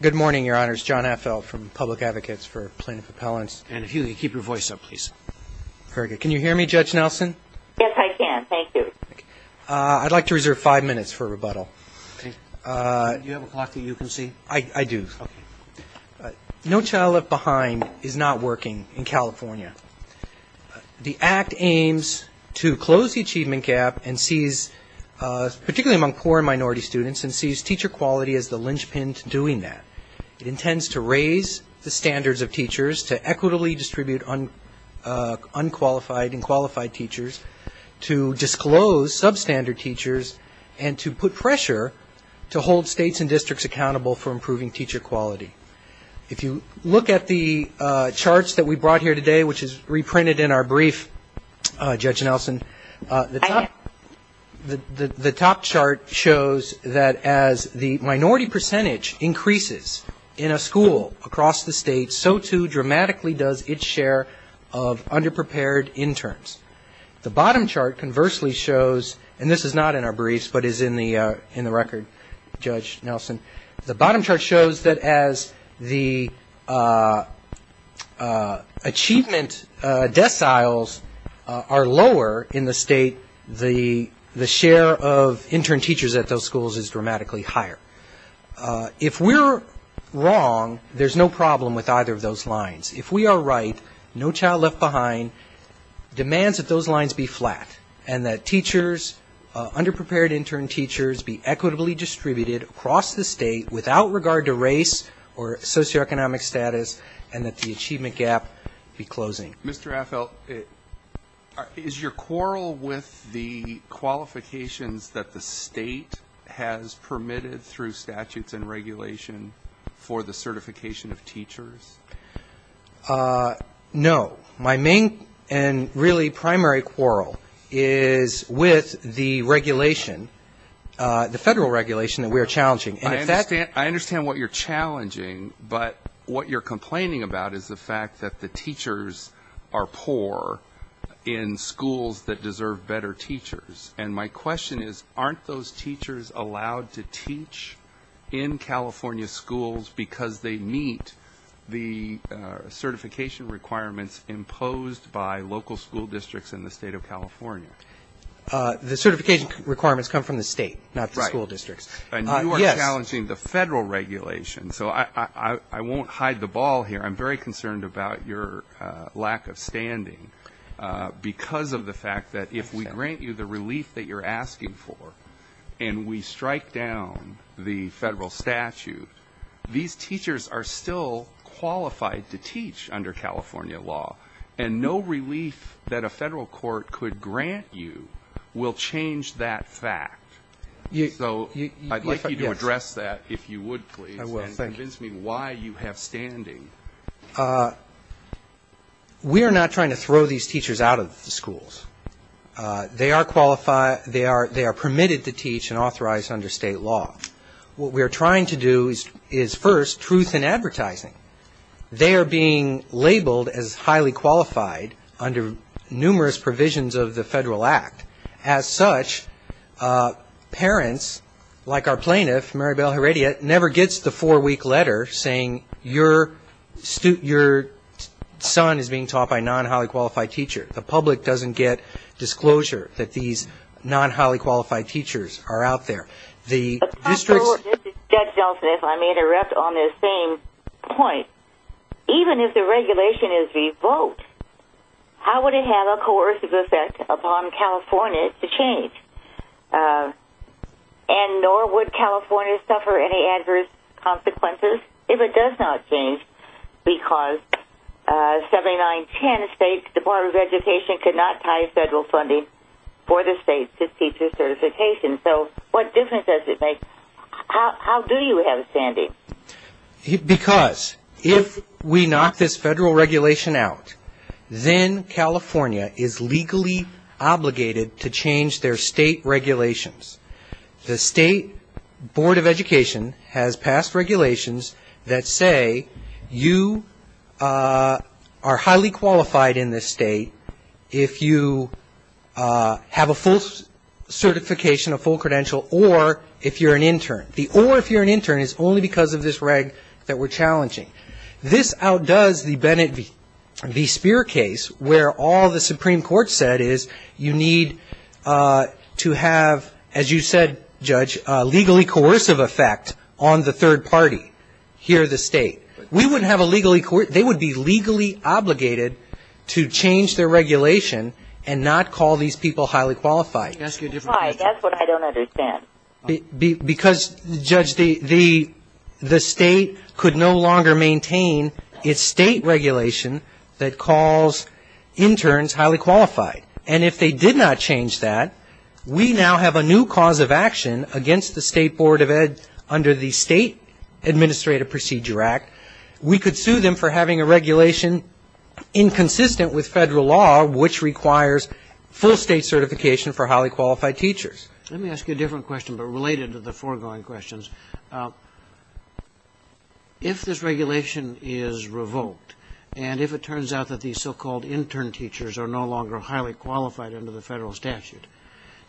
Good morning, Your Honors. John Affel from Public Advocates for Plaintiff Appellants. And if you could keep your voice up, please. Very good. Can you hear me, Judge Nelson? Yes, I can. Thank you. I'd like to reserve five minutes for rebuttal. Do you have a clock that you can see? I do. No Child Left Behind is not working in California. The Act aims to close the achievement gap and seize, particularly among poor and minority students, teacher quality as the linchpin to doing that. It intends to raise the standards of teachers, to equitably distribute unqualified and qualified teachers, to disclose substandard teachers, and to put pressure to hold states and districts accountable for improving teacher quality. If you look at the charts that we brought here today, which is reprinted in our brief, Judge Nelson, the top chart shows that as the minority percentage increases in a school across the state, so too dramatically does its share of underprepared interns. The bottom chart conversely shows, and this is not in our briefs but is in the record, Judge Nelson, the bottom chart shows that as the achievement deciles are lower in the state, the share of intern teachers at those schools is dramatically higher. If we're wrong, there's no problem with either of those lines. If we are right, No Child Left Behind demands that those lines be flat and that teachers, underprepared intern teachers, be equitably distributed across the state without regard to race or socioeconomic status and that the achievement gap be closing. Mr. Affel, is your quarrel with the qualifications that the state has permitted through statutes No. My main and really primary quarrel is with the regulation, the federal regulation that we are challenging. I understand what you're challenging, but what you're complaining about is the fact that the teachers are poor in schools that deserve better teachers. And my question is, aren't those teachers allowed to teach in California schools because they meet the certification requirements imposed by local school districts in the state of California? The certification requirements come from the state, not the school districts. Right. And you are challenging the federal regulation. So I won't hide the ball here. I'm very concerned about your lack of standing because of the fact that if we grant you the relief that you're asking for and we strike down the federal statute, these teachers are still qualified to teach under California law. And no relief that a federal court could grant you will change that fact. So I'd like you to address that, if you would, please. I will. Thank you. We are not trying to throw these teachers out of the schools. They are permitted to teach and authorize under state law. What we are trying to do is, first, truth in advertising. They are being labeled as highly qualified under numerous provisions of the federal act. As such, parents, like our plaintiff, Maribel Heredia, never gets the four-week letter saying, your son is being taught by a non-highly qualified teacher. The public doesn't get disclosure that these non-highly qualified teachers are out there. Judge Delfin, if I may interrupt on this same point. Even if the regulation is revoked, how would it have a coercive effect upon California to change? And nor would California suffer any adverse consequences if it does not change because 7910 State Department of Education could not tie federal funding for the state to teacher certification. So what difference does it make? How do you have a standing? Because if we knock this federal regulation out, then California is legally obligated to change their state regulations. The State Board of Education has passed regulations that say, you are highly qualified in this state if you have a full certification, a full credential, or if you're an intern. The or if you're an intern is only because of this reg that we're challenging. This outdoes the Bennett v. Speer case where all the Supreme Court said is you need to have, as you said, Judge, a legally coercive effect on the third party here in the state. They would be legally obligated to change their regulation and not call these people highly qualified. That's what I don't understand. Because, Judge, the state could no longer maintain its state regulation that calls interns highly qualified. And if they did not change that, we now have a new cause of action against the State Board of Ed under the State Administrative Procedure Act. We could sue them for having a regulation inconsistent with federal law, which requires full state certification for highly qualified teachers. Let me ask you a different question, but related to the foregoing questions. If this regulation is revoked and if it turns out that these so-called intern teachers are no longer highly qualified under the federal statute,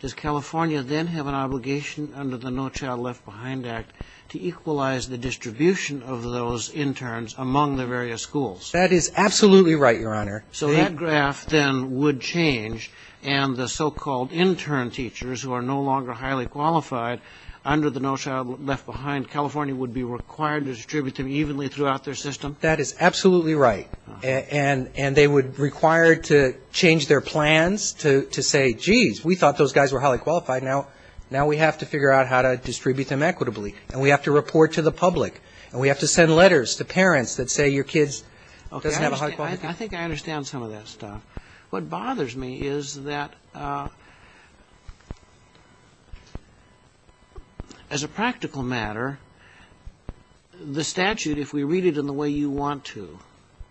does California then have an obligation under the No Child Left Behind Act to equalize the distribution of those interns among the various schools? That is absolutely right, Your Honor. So that graph then would change, and the so-called intern teachers who are no longer highly qualified under the No Child Left Behind, California would be required to distribute them evenly throughout their system? That is absolutely right. And they would require to change their plans to say, geez, we thought those guys were highly qualified. Now we have to figure out how to distribute them equitably, and we have to report to the public, and we have to send letters to parents that say your kid doesn't have a high quality. I think I understand some of that stuff. What bothers me is that, as a practical matter, the statute, if we read it in the way you want to,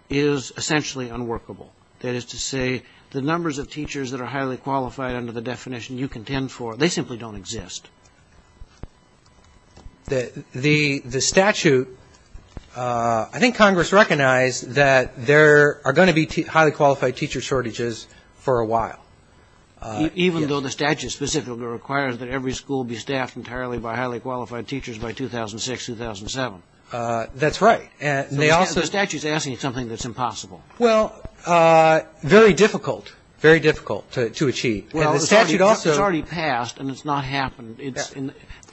is essentially unworkable. That is to say, the numbers of teachers that are highly qualified under the definition you contend for, they simply don't exist. The statute, I think Congress recognized that there are going to be highly qualified teacher shortages for a while. Even though the statute specifically requires that every school be staffed entirely by highly qualified teachers by 2006, 2007? That's right. And they also The statute is asking you something that's impossible. Well, very difficult. Very difficult to achieve. And the statute also It's already passed, and it's not happened. It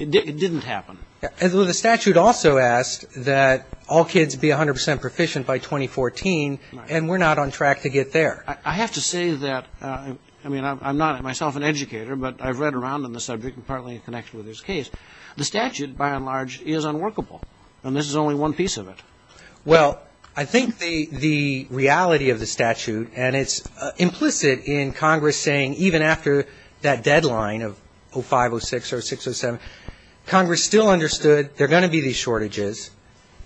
didn't happen. And the statute also asked that all kids be 100 percent proficient by 2014, and we're not on track to get there. I have to say that, I mean, I'm not myself an educator, but I've read around on the subject and partly connected with this case. The statute, by and large, is unworkable, and this is only one piece of it. Well, I think the reality of the statute, and it's implicit in Congress saying even after that deadline of 05, 06, or 06, 07, Congress still understood there are going to be these shortages.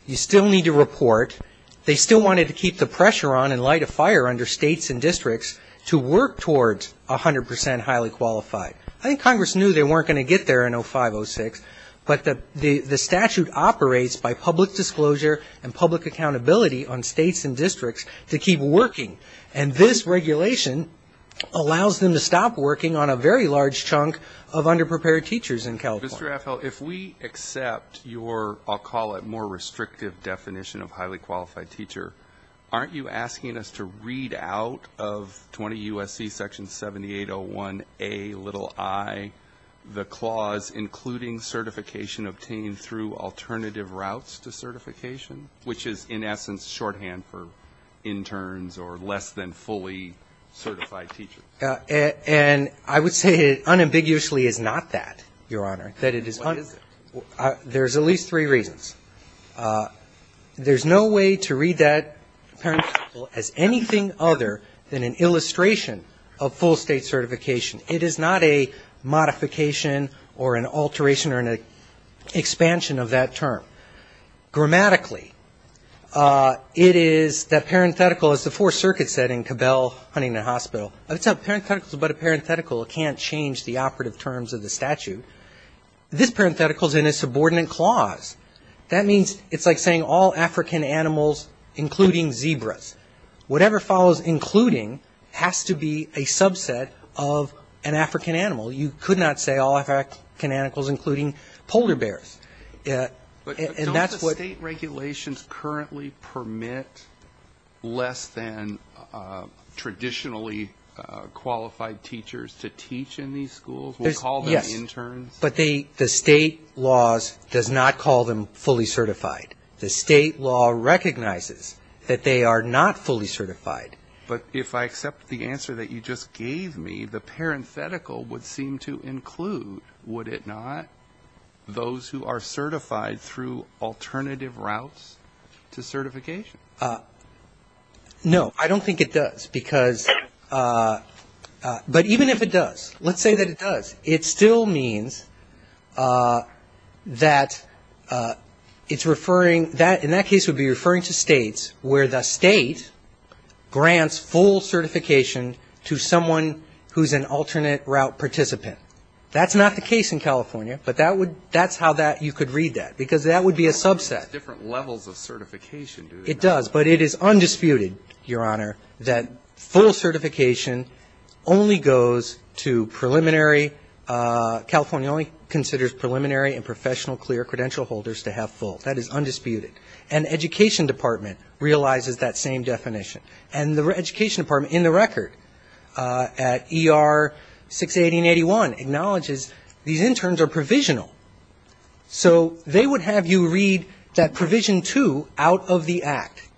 You still need to report. They still wanted to keep the pressure on and light a fire under states and districts to work towards 100 percent highly qualified. I think Congress knew they weren't going to get there in 05, 06, but the statute operates by public disclosure and public accountability on states and districts to keep working, and this regulation allows them to stop working on a very large chunk of underprepared teachers in California. Mr. Raffel, if we accept your, I'll call it more restrictive definition of highly qualified teacher, aren't you asking us to read out of 20 U.S.C. Section 7801A, little i, the clause including certification obtained through alternative routes to certification, which is in essence shorthand for interns or less than fully certified teachers? And I would say it unambiguously is not that, Your Honor. What is it? There's at least three reasons. There's no way to read that parenthetical as anything other than an illustration of full state certification. It is not a modification or an alteration or an expansion of that term. Grammatically, it is that parenthetical, as the Fourth Circuit said in Cabell Huntington Hospital, it's not a parenthetical, but a parenthetical. It can't change the operative terms of the statute. This parenthetical is in a subordinate clause. That means it's like saying all African animals, including zebras. Whatever follows including has to be a subset of an African animal. You could not say all African animals, including polder bears. But don't the state regulations currently permit less than traditionally qualified teachers to teach in these schools? Yes, but the state laws does not call them fully certified. The state law recognizes that they are not fully certified. But if I accept the answer that you just gave me, the parenthetical would seem to include, would it not, those who are certified through alternative routes to certification? No, I don't think it does. Because, but even if it does, let's say that it does, it still means that it's referring, in that case it would be referring to states where the state grants full certification to someone who's an alternate route participant. That's not the case in California, but that's how you could read that, because that would be a subset. It's different levels of certification, do they not? It does, but it is undisputed, Your Honor, that full certification only goes to preliminary, California only considers preliminary and professional clear credential holders to have full. That is undisputed. And the education department realizes that same definition. And the education department, in the record, at ER 61881, acknowledges these interns are provisional. So they would have you read that Provision 2 out of the Act.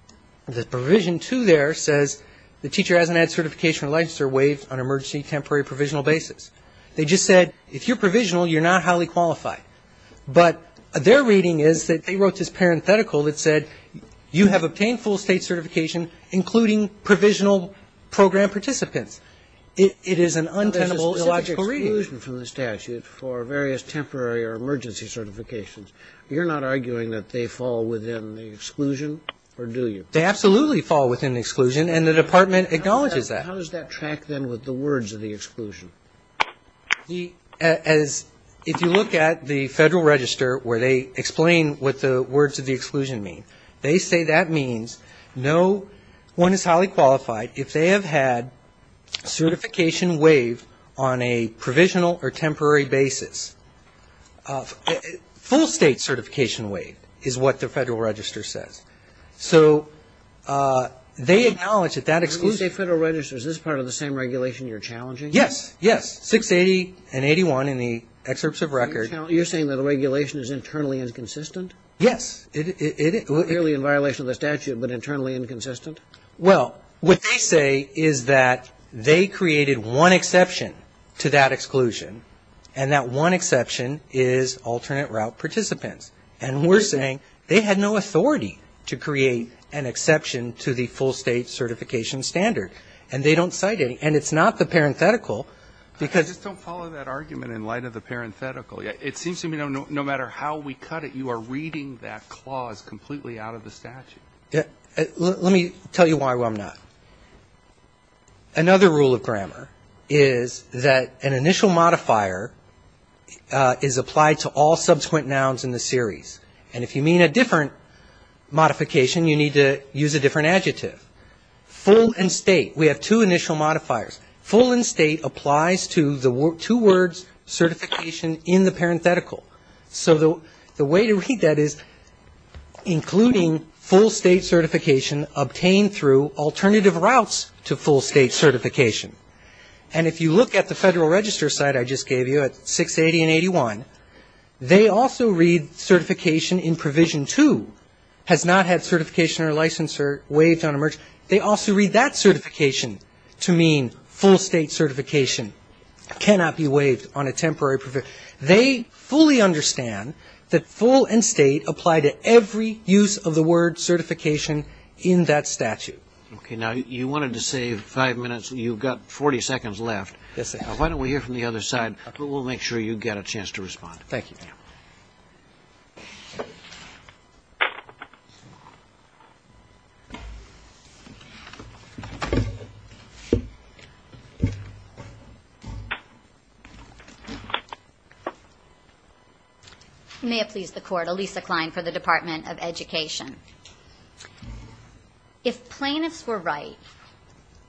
The Provision 2 there says the teacher hasn't had certification or licensure waived on emergency, temporary, provisional basis. They just said, if you're provisional, you're not highly qualified. But their reading is that they wrote this parenthetical that said, you have obtained full state certification, including provisional program participants. It is an untenable, illogical reading. But there's a specific exclusion from the statute for various temporary or emergency certifications. You're not arguing that they fall within the exclusion, or do you? They absolutely fall within the exclusion, and the department acknowledges that. How does that track, then, with the words of the exclusion? If you look at the Federal Register, where they explain what the words of the exclusion mean, they say that means no one is highly qualified if they have had certification waived on a provisional or temporary basis. Full state certification waived is what the Federal Register says. So they acknowledge that that exclusion. When you say Federal Register, is this part of the same regulation you're challenging? Yes. Yes. 680 and 81 in the excerpts of record. You're saying that the regulation is internally inconsistent? Yes. Clearly in violation of the statute, but internally inconsistent? Well, what they say is that they created one exception to that exclusion, and that one exception is alternate route participants. And we're saying they had no authority to create an exception to the full state certification standard. And they don't cite any. And it's not the parenthetical, because you don't follow that argument in light of the parenthetical. It seems to me, no matter how we cut it, you are reading that clause completely out of the statute. Let me tell you why I'm not. Another rule of grammar is that an initial modifier is applied to all subsequent nouns in the series. And if you mean a different modification, you need to use a different adjective. Full and state, we have two initial modifiers. Full and state applies to the two words certification in the parenthetical. So the way to read that is including full state certification obtained through alternative routes to full state certification. And if you look at the Federal Register site I just gave you at 680 and 81, they also read certification in provision two has not had certification or license or waived on a merge. They also read that certification to mean full state certification cannot be waived on a temporary provision. They fully understand that full and state apply to every use of the word certification in that statute. Okay. Now, you wanted to save five minutes. You've got 40 seconds left. Yes, sir. Why don't we hear from the other side? We'll make sure you get a chance to respond. Thank you. May it please the Court. I'm Lisa Klein for the Department of Education. If plaintiffs were right,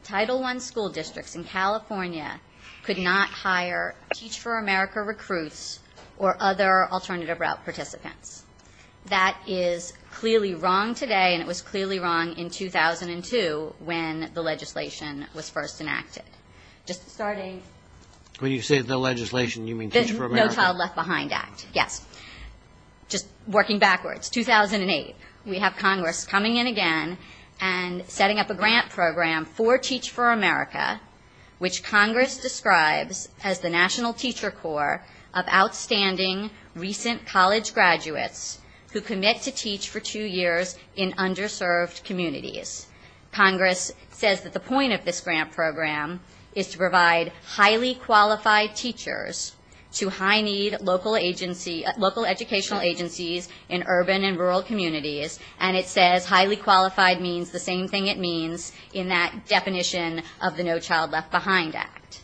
Title I school districts in California could not hire Teach for America recruits or other alternative route participants. That is clearly wrong today, and it was clearly wrong in 2002 when the legislation was first enacted. When you say the legislation, you mean Teach for America? Working backwards, 2008, we have Congress coming in again and setting up a grant program for Teach for America, which Congress describes as the National Teacher Corps of Outstanding Recent College Graduates Who Commit to Teach for Two Years in Underserved Communities. Congress says that the point of this grant program is to provide highly qualified teachers to high-need local educational agencies in urban and rural communities, and it says highly qualified means the same thing it means in that definition of the No Child Left Behind Act.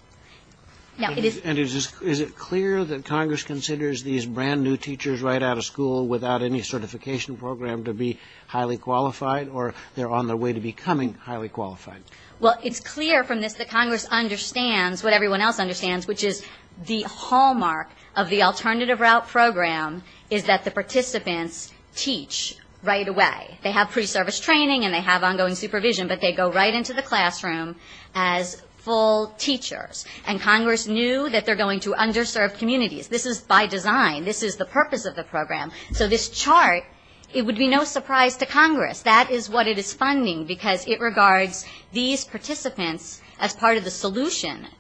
And is it clear that Congress considers these brand-new teachers right out of school without any certification program to be highly qualified, or they're on their way to becoming highly qualified? Well, it's clear from this that Congress understands what everyone else understands, which is the hallmark of the alternative route program is that the participants teach right away. They have pre-service training and they have ongoing supervision, but they go right into the classroom as full teachers. And Congress knew that they're going to underserved communities. This is by design. This is the purpose of the program. So this chart, it would be no surprise to Congress, that is what it is funding, because it regards these participants as part of the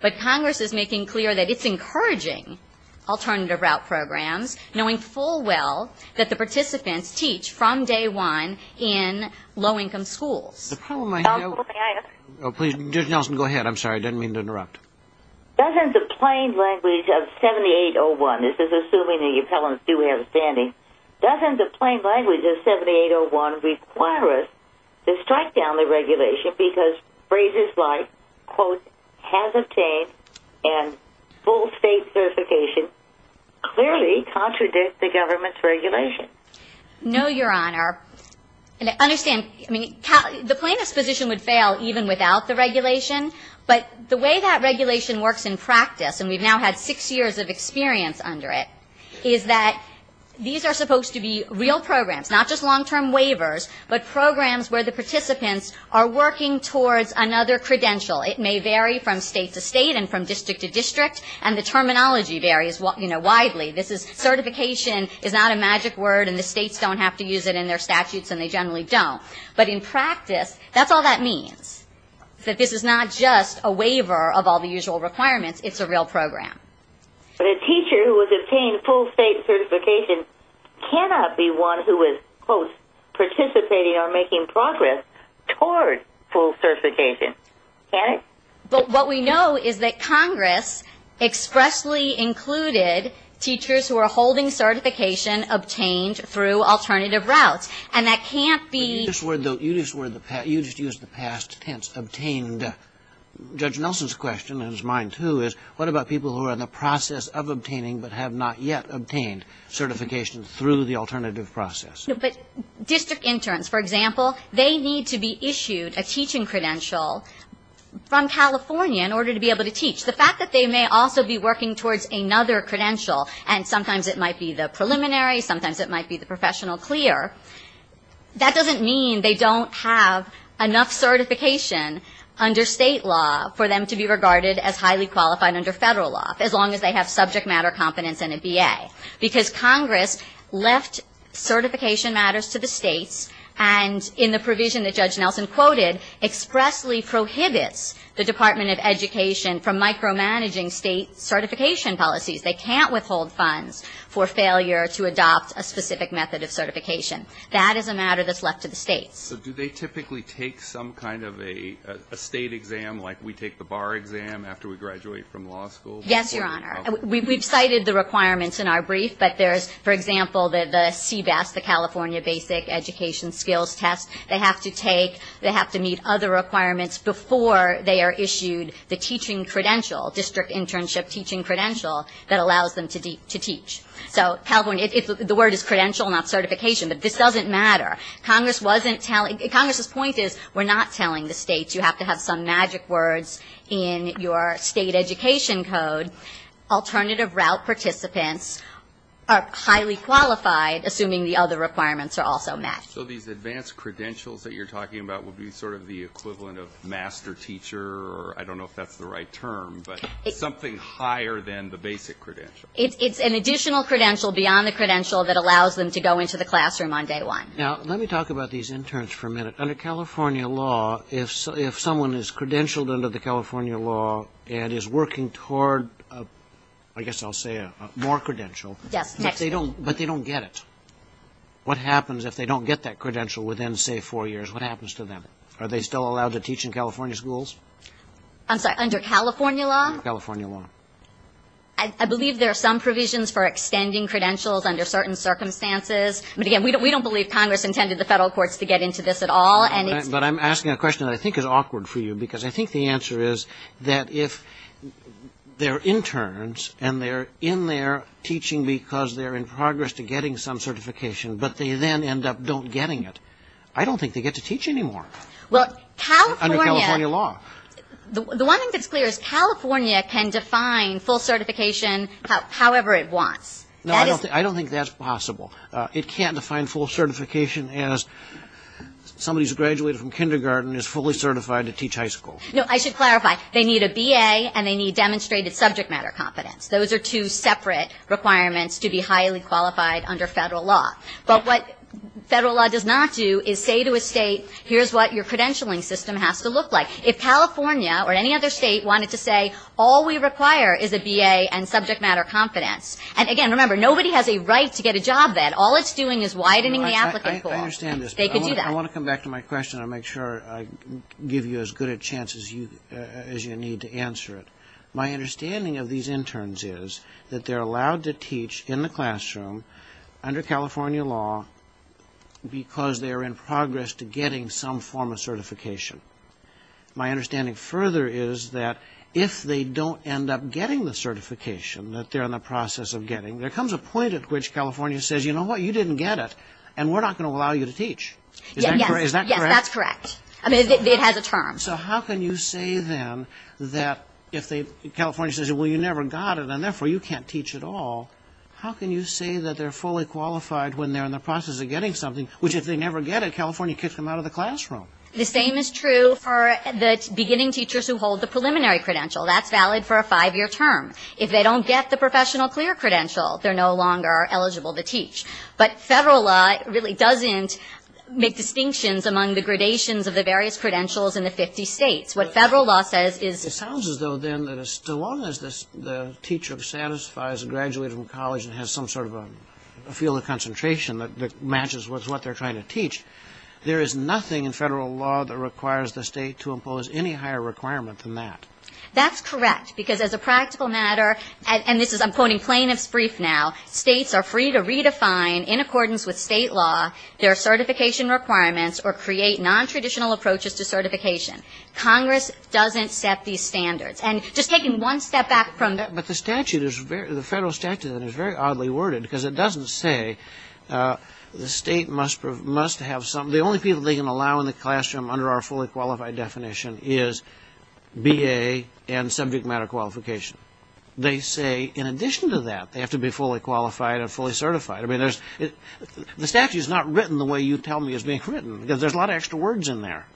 But Congress is making clear that it's encouraging alternative route programs, knowing full well that the participants teach from day one in low-income schools. Nelson, go ahead. I'm sorry. I didn't mean to interrupt. Doesn't the plain language of 7801, this is assuming the appellants do have a standing, doesn't the plain language of 7801 require us to quote, has obtained and full state certification, clearly contradict the government's regulation? No, Your Honor. And understand, I mean, the plaintiff's position would fail even without the regulation, but the way that regulation works in practice, and we've now had six years of experience under it, is that these are supposed to be real programs, not just long-term waivers, but programs where the participants are working towards another credential. It may vary from state to state and from district to district, and the terminology varies widely. Certification is not a magic word, and the states don't have to use it in their statutes, and they generally don't. But in practice, that's all that means. That this is not just a waiver of all the usual requirements, it's a real program. But a teacher who has obtained full state certification cannot be one who is, quote, participating or making progress toward full certification, can it? But what we know is that Congress expressly included teachers who are holding certification obtained through alternative routes, and that can't be... You just used the past tense, obtained. Judge Nelson's question, and it was mine, too, is what about people who are in the process of obtaining but have not yet obtained certification through the alternative process? No, but district interns, for example, they need to be issued a teaching credential from California in order to be able to teach. The fact that they may also be working towards another credential, and sometimes it might be the preliminary, sometimes it might be the professional clear, that doesn't mean they don't have enough certification under state law for them to be regarded as highly qualified under federal law, as long as they have subject matter competence and a BA. Because Congress left certification matters to the states, and in the provision that Judge Nelson quoted, expressly prohibits the Department of Education from micromanaging state certification policies. They can't withhold funds for failure to adopt a specific method of certification. That is a matter that's left to the states. So do they typically take some kind of a state exam, like we take the bar exam after we graduate from law school? Yes, Your Honor. We've cited the requirements in our brief, but there's, for example, the CBAS, the California Basic Education Skills Test. They have to take, they have to meet other requirements before they are issued the teaching credential, district internship teaching credential, that allows them to teach. So California, the word is credential, not certification, but this doesn't matter. Congress wasn't telling, Congress's point is we're not telling the states you have to have some magic words in your state education code. Alternative route participants are highly qualified, assuming the other requirements are also met. So these advanced credentials that you're talking about would be sort of the equivalent of master teacher, or I don't know if that's the right term, but something higher than the basic credential. It's an additional credential beyond the credential that allows them to go into the classroom on day one. Now, let me talk about these interns for a minute. Under California law, if someone is credentialed under the California law and is working toward, I guess I'll say a more credential. Yes. But they don't get it. What happens if they don't get that credential within, say, four years? What happens to them? Are they still allowed to teach in California schools? I'm sorry, under California law? I believe there are some provisions for extending credentials under certain circumstances, but again, we don't believe Congress intended the federal courts to get into this at all. But I'm asking a question that I think is awkward for you, because I think the answer is that if they're interns and they're in there teaching because they're in progress to getting some certification, but they then end up don't getting it, I don't think they get to teach anymore. Under California law. The one thing that's clear is California can define full certification however it wants. No, I don't think that's possible. It can't define full certification as somebody who's graduated from kindergarten is fully certified to teach high school. No, I should clarify. They need a B.A. and they need demonstrated subject matter confidence. Those are two separate requirements to be highly qualified under federal law. But what federal law does not do is say to a state, here's what your credentialing system has to look like. If California or any other state wanted to say all we require is a B.A. and subject matter confidence, and again, remember, nobody has a right to get a job then. All it's doing is widening the applicant pool. I want to come back to my question and make sure I give you as good a chance as you need to answer it. My understanding of these interns is that they're allowed to teach in the classroom under California law because they're in progress to getting some form of certification. My understanding further is that if they don't end up getting the certification that they're in the process of getting, there comes a point at which California says, you know what, you didn't get it, and we're not going to allow you to teach. Is that correct? Yes, that's correct. It has a term. So how can you say then that if California says, well, you never got it and therefore you can't teach at all, how can you say that they're fully qualified when they're in the process of getting something, which if they never get it, California kicks them out of the classroom? The same is true for the beginning teachers who hold the preliminary credential. That's valid for a five-year term. If they don't get the professional clear credential, they're no longer eligible to teach. But Federal law really doesn't make distinctions among the gradations of the various credentials in the 50 states. What Federal law says is... It sounds as though then that as long as the teacher satisfies, graduated from college and has some sort of a field of concentration that matches with what they're trying to teach, there is nothing in Federal law that requires the state to impose any higher requirement than that. That's correct, because as a practical matter, and this is, I'm quoting plaintiff's brief now, states are free to redefine in accordance with state law their certification requirements or create nontraditional approaches to certification. Congress doesn't set these standards. And just taking one step back from that... But the Federal statute is very oddly worded, because it doesn't say the state must have some... The only people they can allow in the classroom under our fully qualified definition is B.A. and subject matter qualification. They say in addition to that, they have to be fully qualified and fully certified. The statute is not written the way you tell me it's being written, because there's a lot of extra words in there.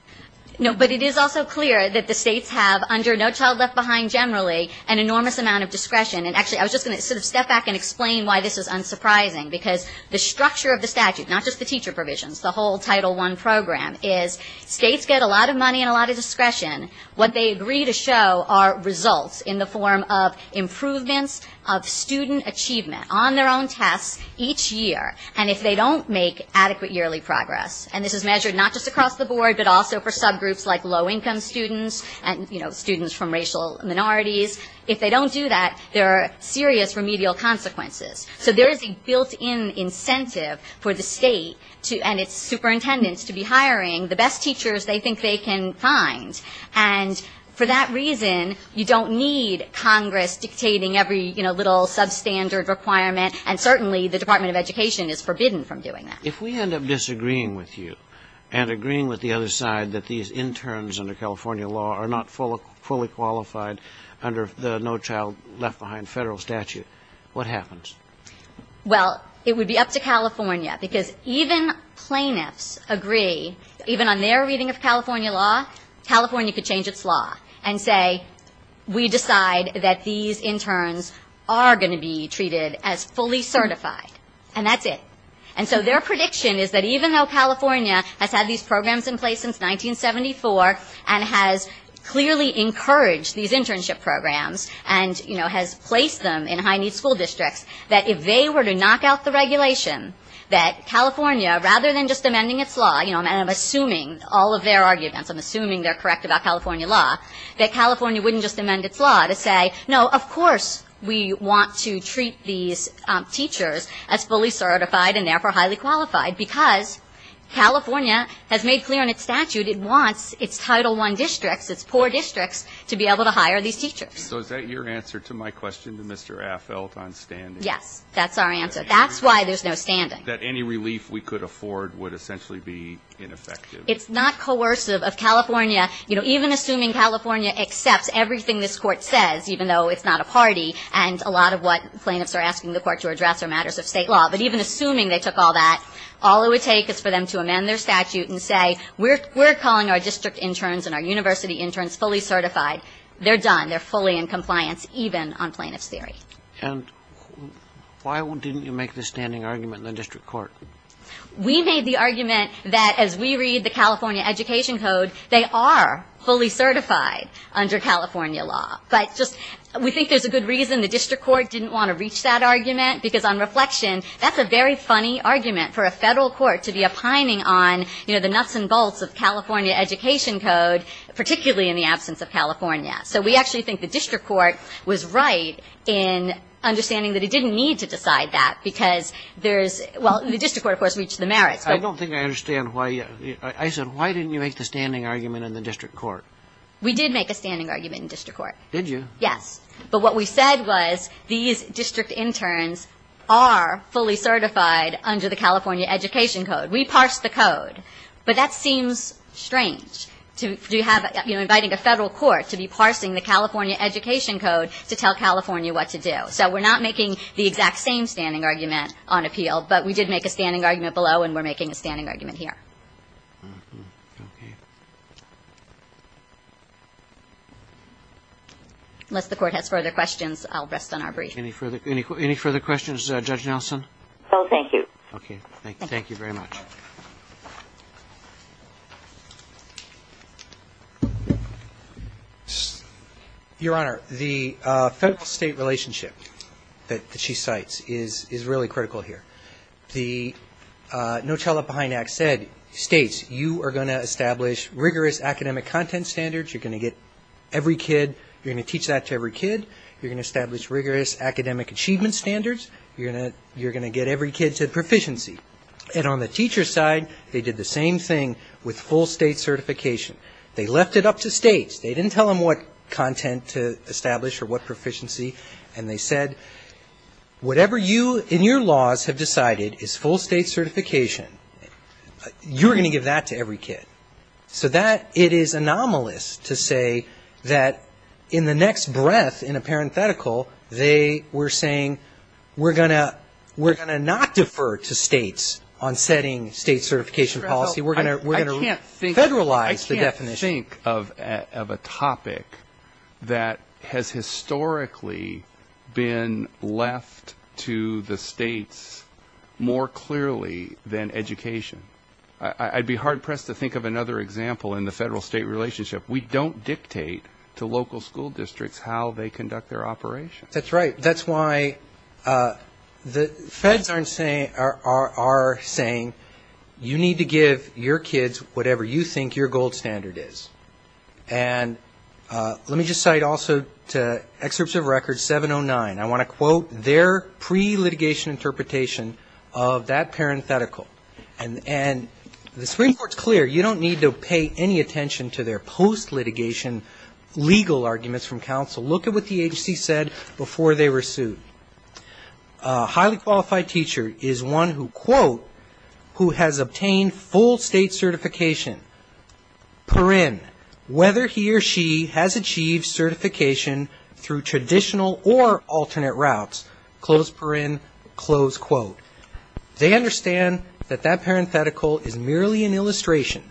No, but it is also clear that the states have, under No Child Left Behind generally, an enormous amount of discretion. And actually, I was just going to sort of step back and explain why this is unsurprising, because the structure of the statute, not just the teacher provisions, the whole Title I program, is states get a lot of money and a lot of discretion. What they agree to show are results in the form of improvements of student achievement on their own tests each year. And if they don't make adequate yearly progress, and this is measured not just across the board, but also for subgroups like low-income students and students from racial minorities, if they don't do that, there are serious remedial consequences. So there is a built-in incentive for the state and its superintendents to be hiring the best teachers they think they can find. And for that reason, you don't need Congress dictating every little substandard requirement, and certainly the Department of Education is forbidden from doing that. If we end up disagreeing with you and agreeing with the other side that these interns under California law are not fully qualified under the no-child-left-behind federal statute, what happens? Well, it would be up to California, because even plaintiffs agree, even on their reading of California law, California could change its law and say, we decide that these interns are going to be treated as fully certified, and that's it. And so their prediction is that even though California has had these programs in place since 1974 and has clearly encouraged these internship programs and, you know, has placed them in high-need school districts, that if they were to knock out the regulation, that California, rather than just amending its law, you know, and I'm assuming all of their arguments, I'm assuming they're correct about California law, that California wouldn't just amend its law to say, no, of course we want to treat these teachers as fully certified and therefore highly qualified, because California has made clear in its statute it wants its Title I districts, its poor districts, to be able to hire these teachers. So is that your answer to my question to Mr. Affeldt on standing? Yes. That's our answer. That's why there's no standing. That any relief we could afford would essentially be ineffective. It's not coercive of California. You know, even assuming California accepts everything this Court says, even though it's not a party and a lot of what plaintiffs are asking the Court to address are matters of State law, but even assuming they took all that, all it would take is for them to amend their statute and say, we're calling our district interns and our university interns fully certified. They're done. They're fully in compliance, even on plaintiff's theory. And why didn't you make the standing argument in the district court? We made the argument that as we read the California Education Code, they are fully certified under California law. But just we think there's a good reason the district court didn't want to reach that argument, because on reflection, that's a very funny argument for a Federal court to be opining on, you know, the nuts and bolts of California Education Code, particularly in the absence of California. So we actually think the district court was right in understanding that it didn't need to decide that, because there's – well, the district court, of course, reached the merits. I don't think I understand why – I said, why didn't you make the standing argument in the district court? We did make a standing argument in district court. Did you? Yes. But what we said was these district interns are fully certified under the California Education Code. We parsed the code. But that seems strange to have, you know, inviting a Federal court to be parsing the California Education Code to tell California what to do. So we're not making the exact same standing argument on appeal, but we did make a standing argument below, and we're making a standing argument here. Okay. Unless the Court has further questions, I'll rest on our brief. Any further questions, Judge Nelson? No, thank you. Okay. Thank you. Thank you very much. Your Honor, the Federal-State relationship that she cites is really critical here. The No Child Left Behind Act states, you are going to establish rigorous academic content standards. You're going to get every kid – you're going to teach that to every kid. You're going to establish rigorous academic achievement standards. You're going to get every kid to proficiency. And on the teacher side, they did the same thing with full state certification. They left it up to states. They didn't tell them what content to establish or what proficiency. And they said, whatever you in your laws have decided is full state certification. You're going to give that to every kid. So that, it is anomalous to say that in the next breath, in a parenthetical, they were saying we're going to not defer to states on setting state certification policy. We're going to federalize the definition. I can't think of a topic that has historically been left to the states more clearly than education. I'd be hard-pressed to think of another example in the federal-state relationship. We don't dictate to local school districts how they conduct their operations. That's right. That's why the feds are saying you need to give your kids whatever you think your gold standard is. And let me just cite also to excerpts of record 709. I want to quote their pre-litigation interpretation of that parenthetical. And the Supreme Court's clear. You don't need to pay any attention to their post-litigation legal arguments from counsel. Look at what the agency said before they were sued. A highly qualified teacher is one who, quote, who has obtained full state certification, per in, whether he or she has achieved certification through traditional or alternate routes, close per in, close quote. They understand that that parenthetical is merely an illustration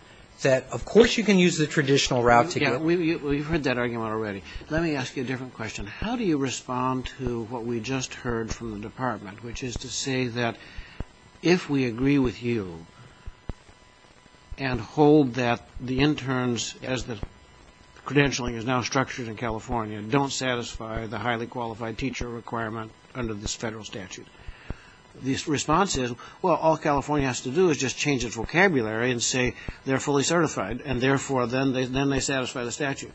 that, of course, you can use the traditional route to get it. Well, you've heard that argument already. Let me ask you a different question. How do you respond to what we just heard from the department, which is to say that if we agree with you and hold that the interns, as the credentialing is now structured in California, don't satisfy the highly qualified teacher requirement under this federal statute, the response is, well, all California has to do is just change its vocabulary and say they're fully certified and therefore then they satisfy the statute?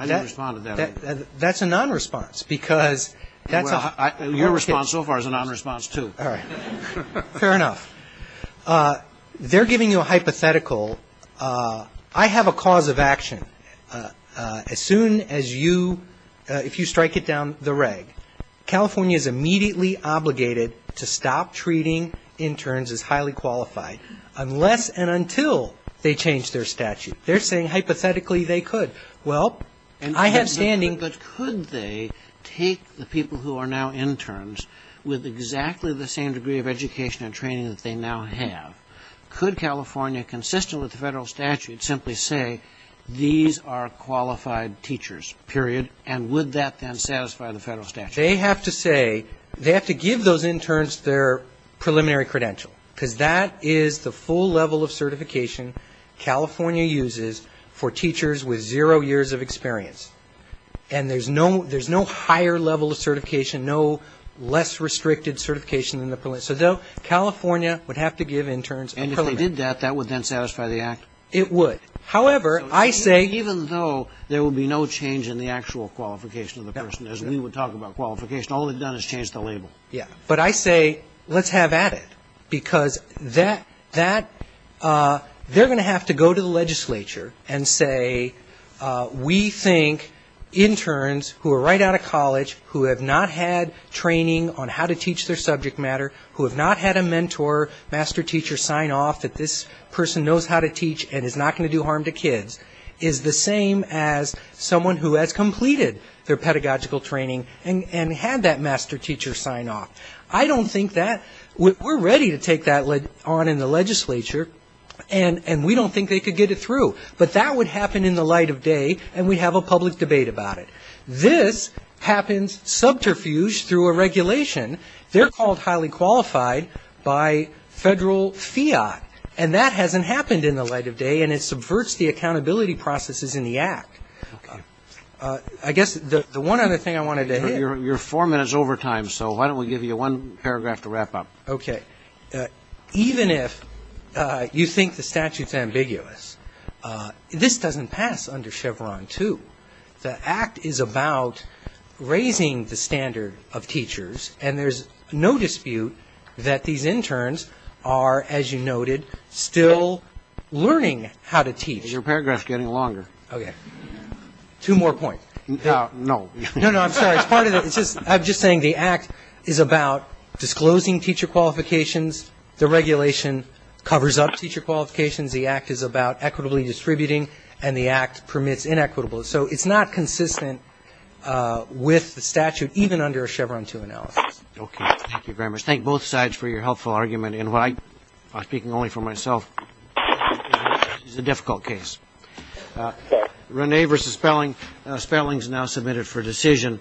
I didn't respond to that. That's a non-response because that's a... Your response so far is a non-response, too. All right. Fair enough. They're giving you a hypothetical. I have a cause of action. As soon as you, if you strike it down the reg, California is immediately obligated to stop treating interns as highly qualified unless and until they change their statute. They're saying hypothetically they could. Well, I have standing... But could they take the people who are now interns with exactly the same degree of education and training that they now have? Could California, consistent with the federal statute, simply say these are qualified teachers, period, and would that then satisfy the federal statute? They have to say, they have to give those interns their preliminary credential because that is the full level of certification California uses for teachers with zero years of experience. And there's no higher level of certification, no less restricted certification than the preliminary. So California would have to give interns a preliminary... And if they did that, that would then satisfy the act? It would. However, I say... Even though there would be no change in the actual qualification of the person, as we would talk about qualification, all they've done is change the label. Yeah. But I say let's have at it because that, they're going to have to go to the legislature and say, we think interns who are right out of college, who have not had training on how to teach their subject matter, who have not had a mentor, master teacher sign off that this person knows how to teach and is not going to do harm to kids, is the same as someone who has completed their pedagogical training and had that master teacher sign off. I don't think that... We're ready to take that on in the legislature, and we don't think they could get it through. But that would happen in the light of day, and we'd have a public debate about it. This happens subterfuge through a regulation. They're called highly qualified by federal fiat, and that hasn't happened in the light of day, and it subverts the accountability processes in the act. Okay. I guess the one other thing I wanted to hit... You're four minutes over time, so why don't we give you one paragraph to wrap up. Okay. Even if you think the statute's ambiguous, this doesn't pass under Chevron 2. The act is about raising the standard of teachers, and there's no dispute that these interns are, as you noted, still learning how to teach. Your paragraph's getting longer. Okay. Two more points. No. No, no, I'm sorry. It's part of the... I'm just saying the act is about disclosing teacher qualifications. The regulation covers up teacher qualifications. The act is about equitably distributing, and the act permits inequitable. So it's not consistent with the statute, even under a Chevron 2 analysis. Okay. Thank you very much. Thank both sides for your helpful argument. And while I'm speaking only for myself, this is a difficult case. Rene versus Spelling. Spelling's now submitted for decision.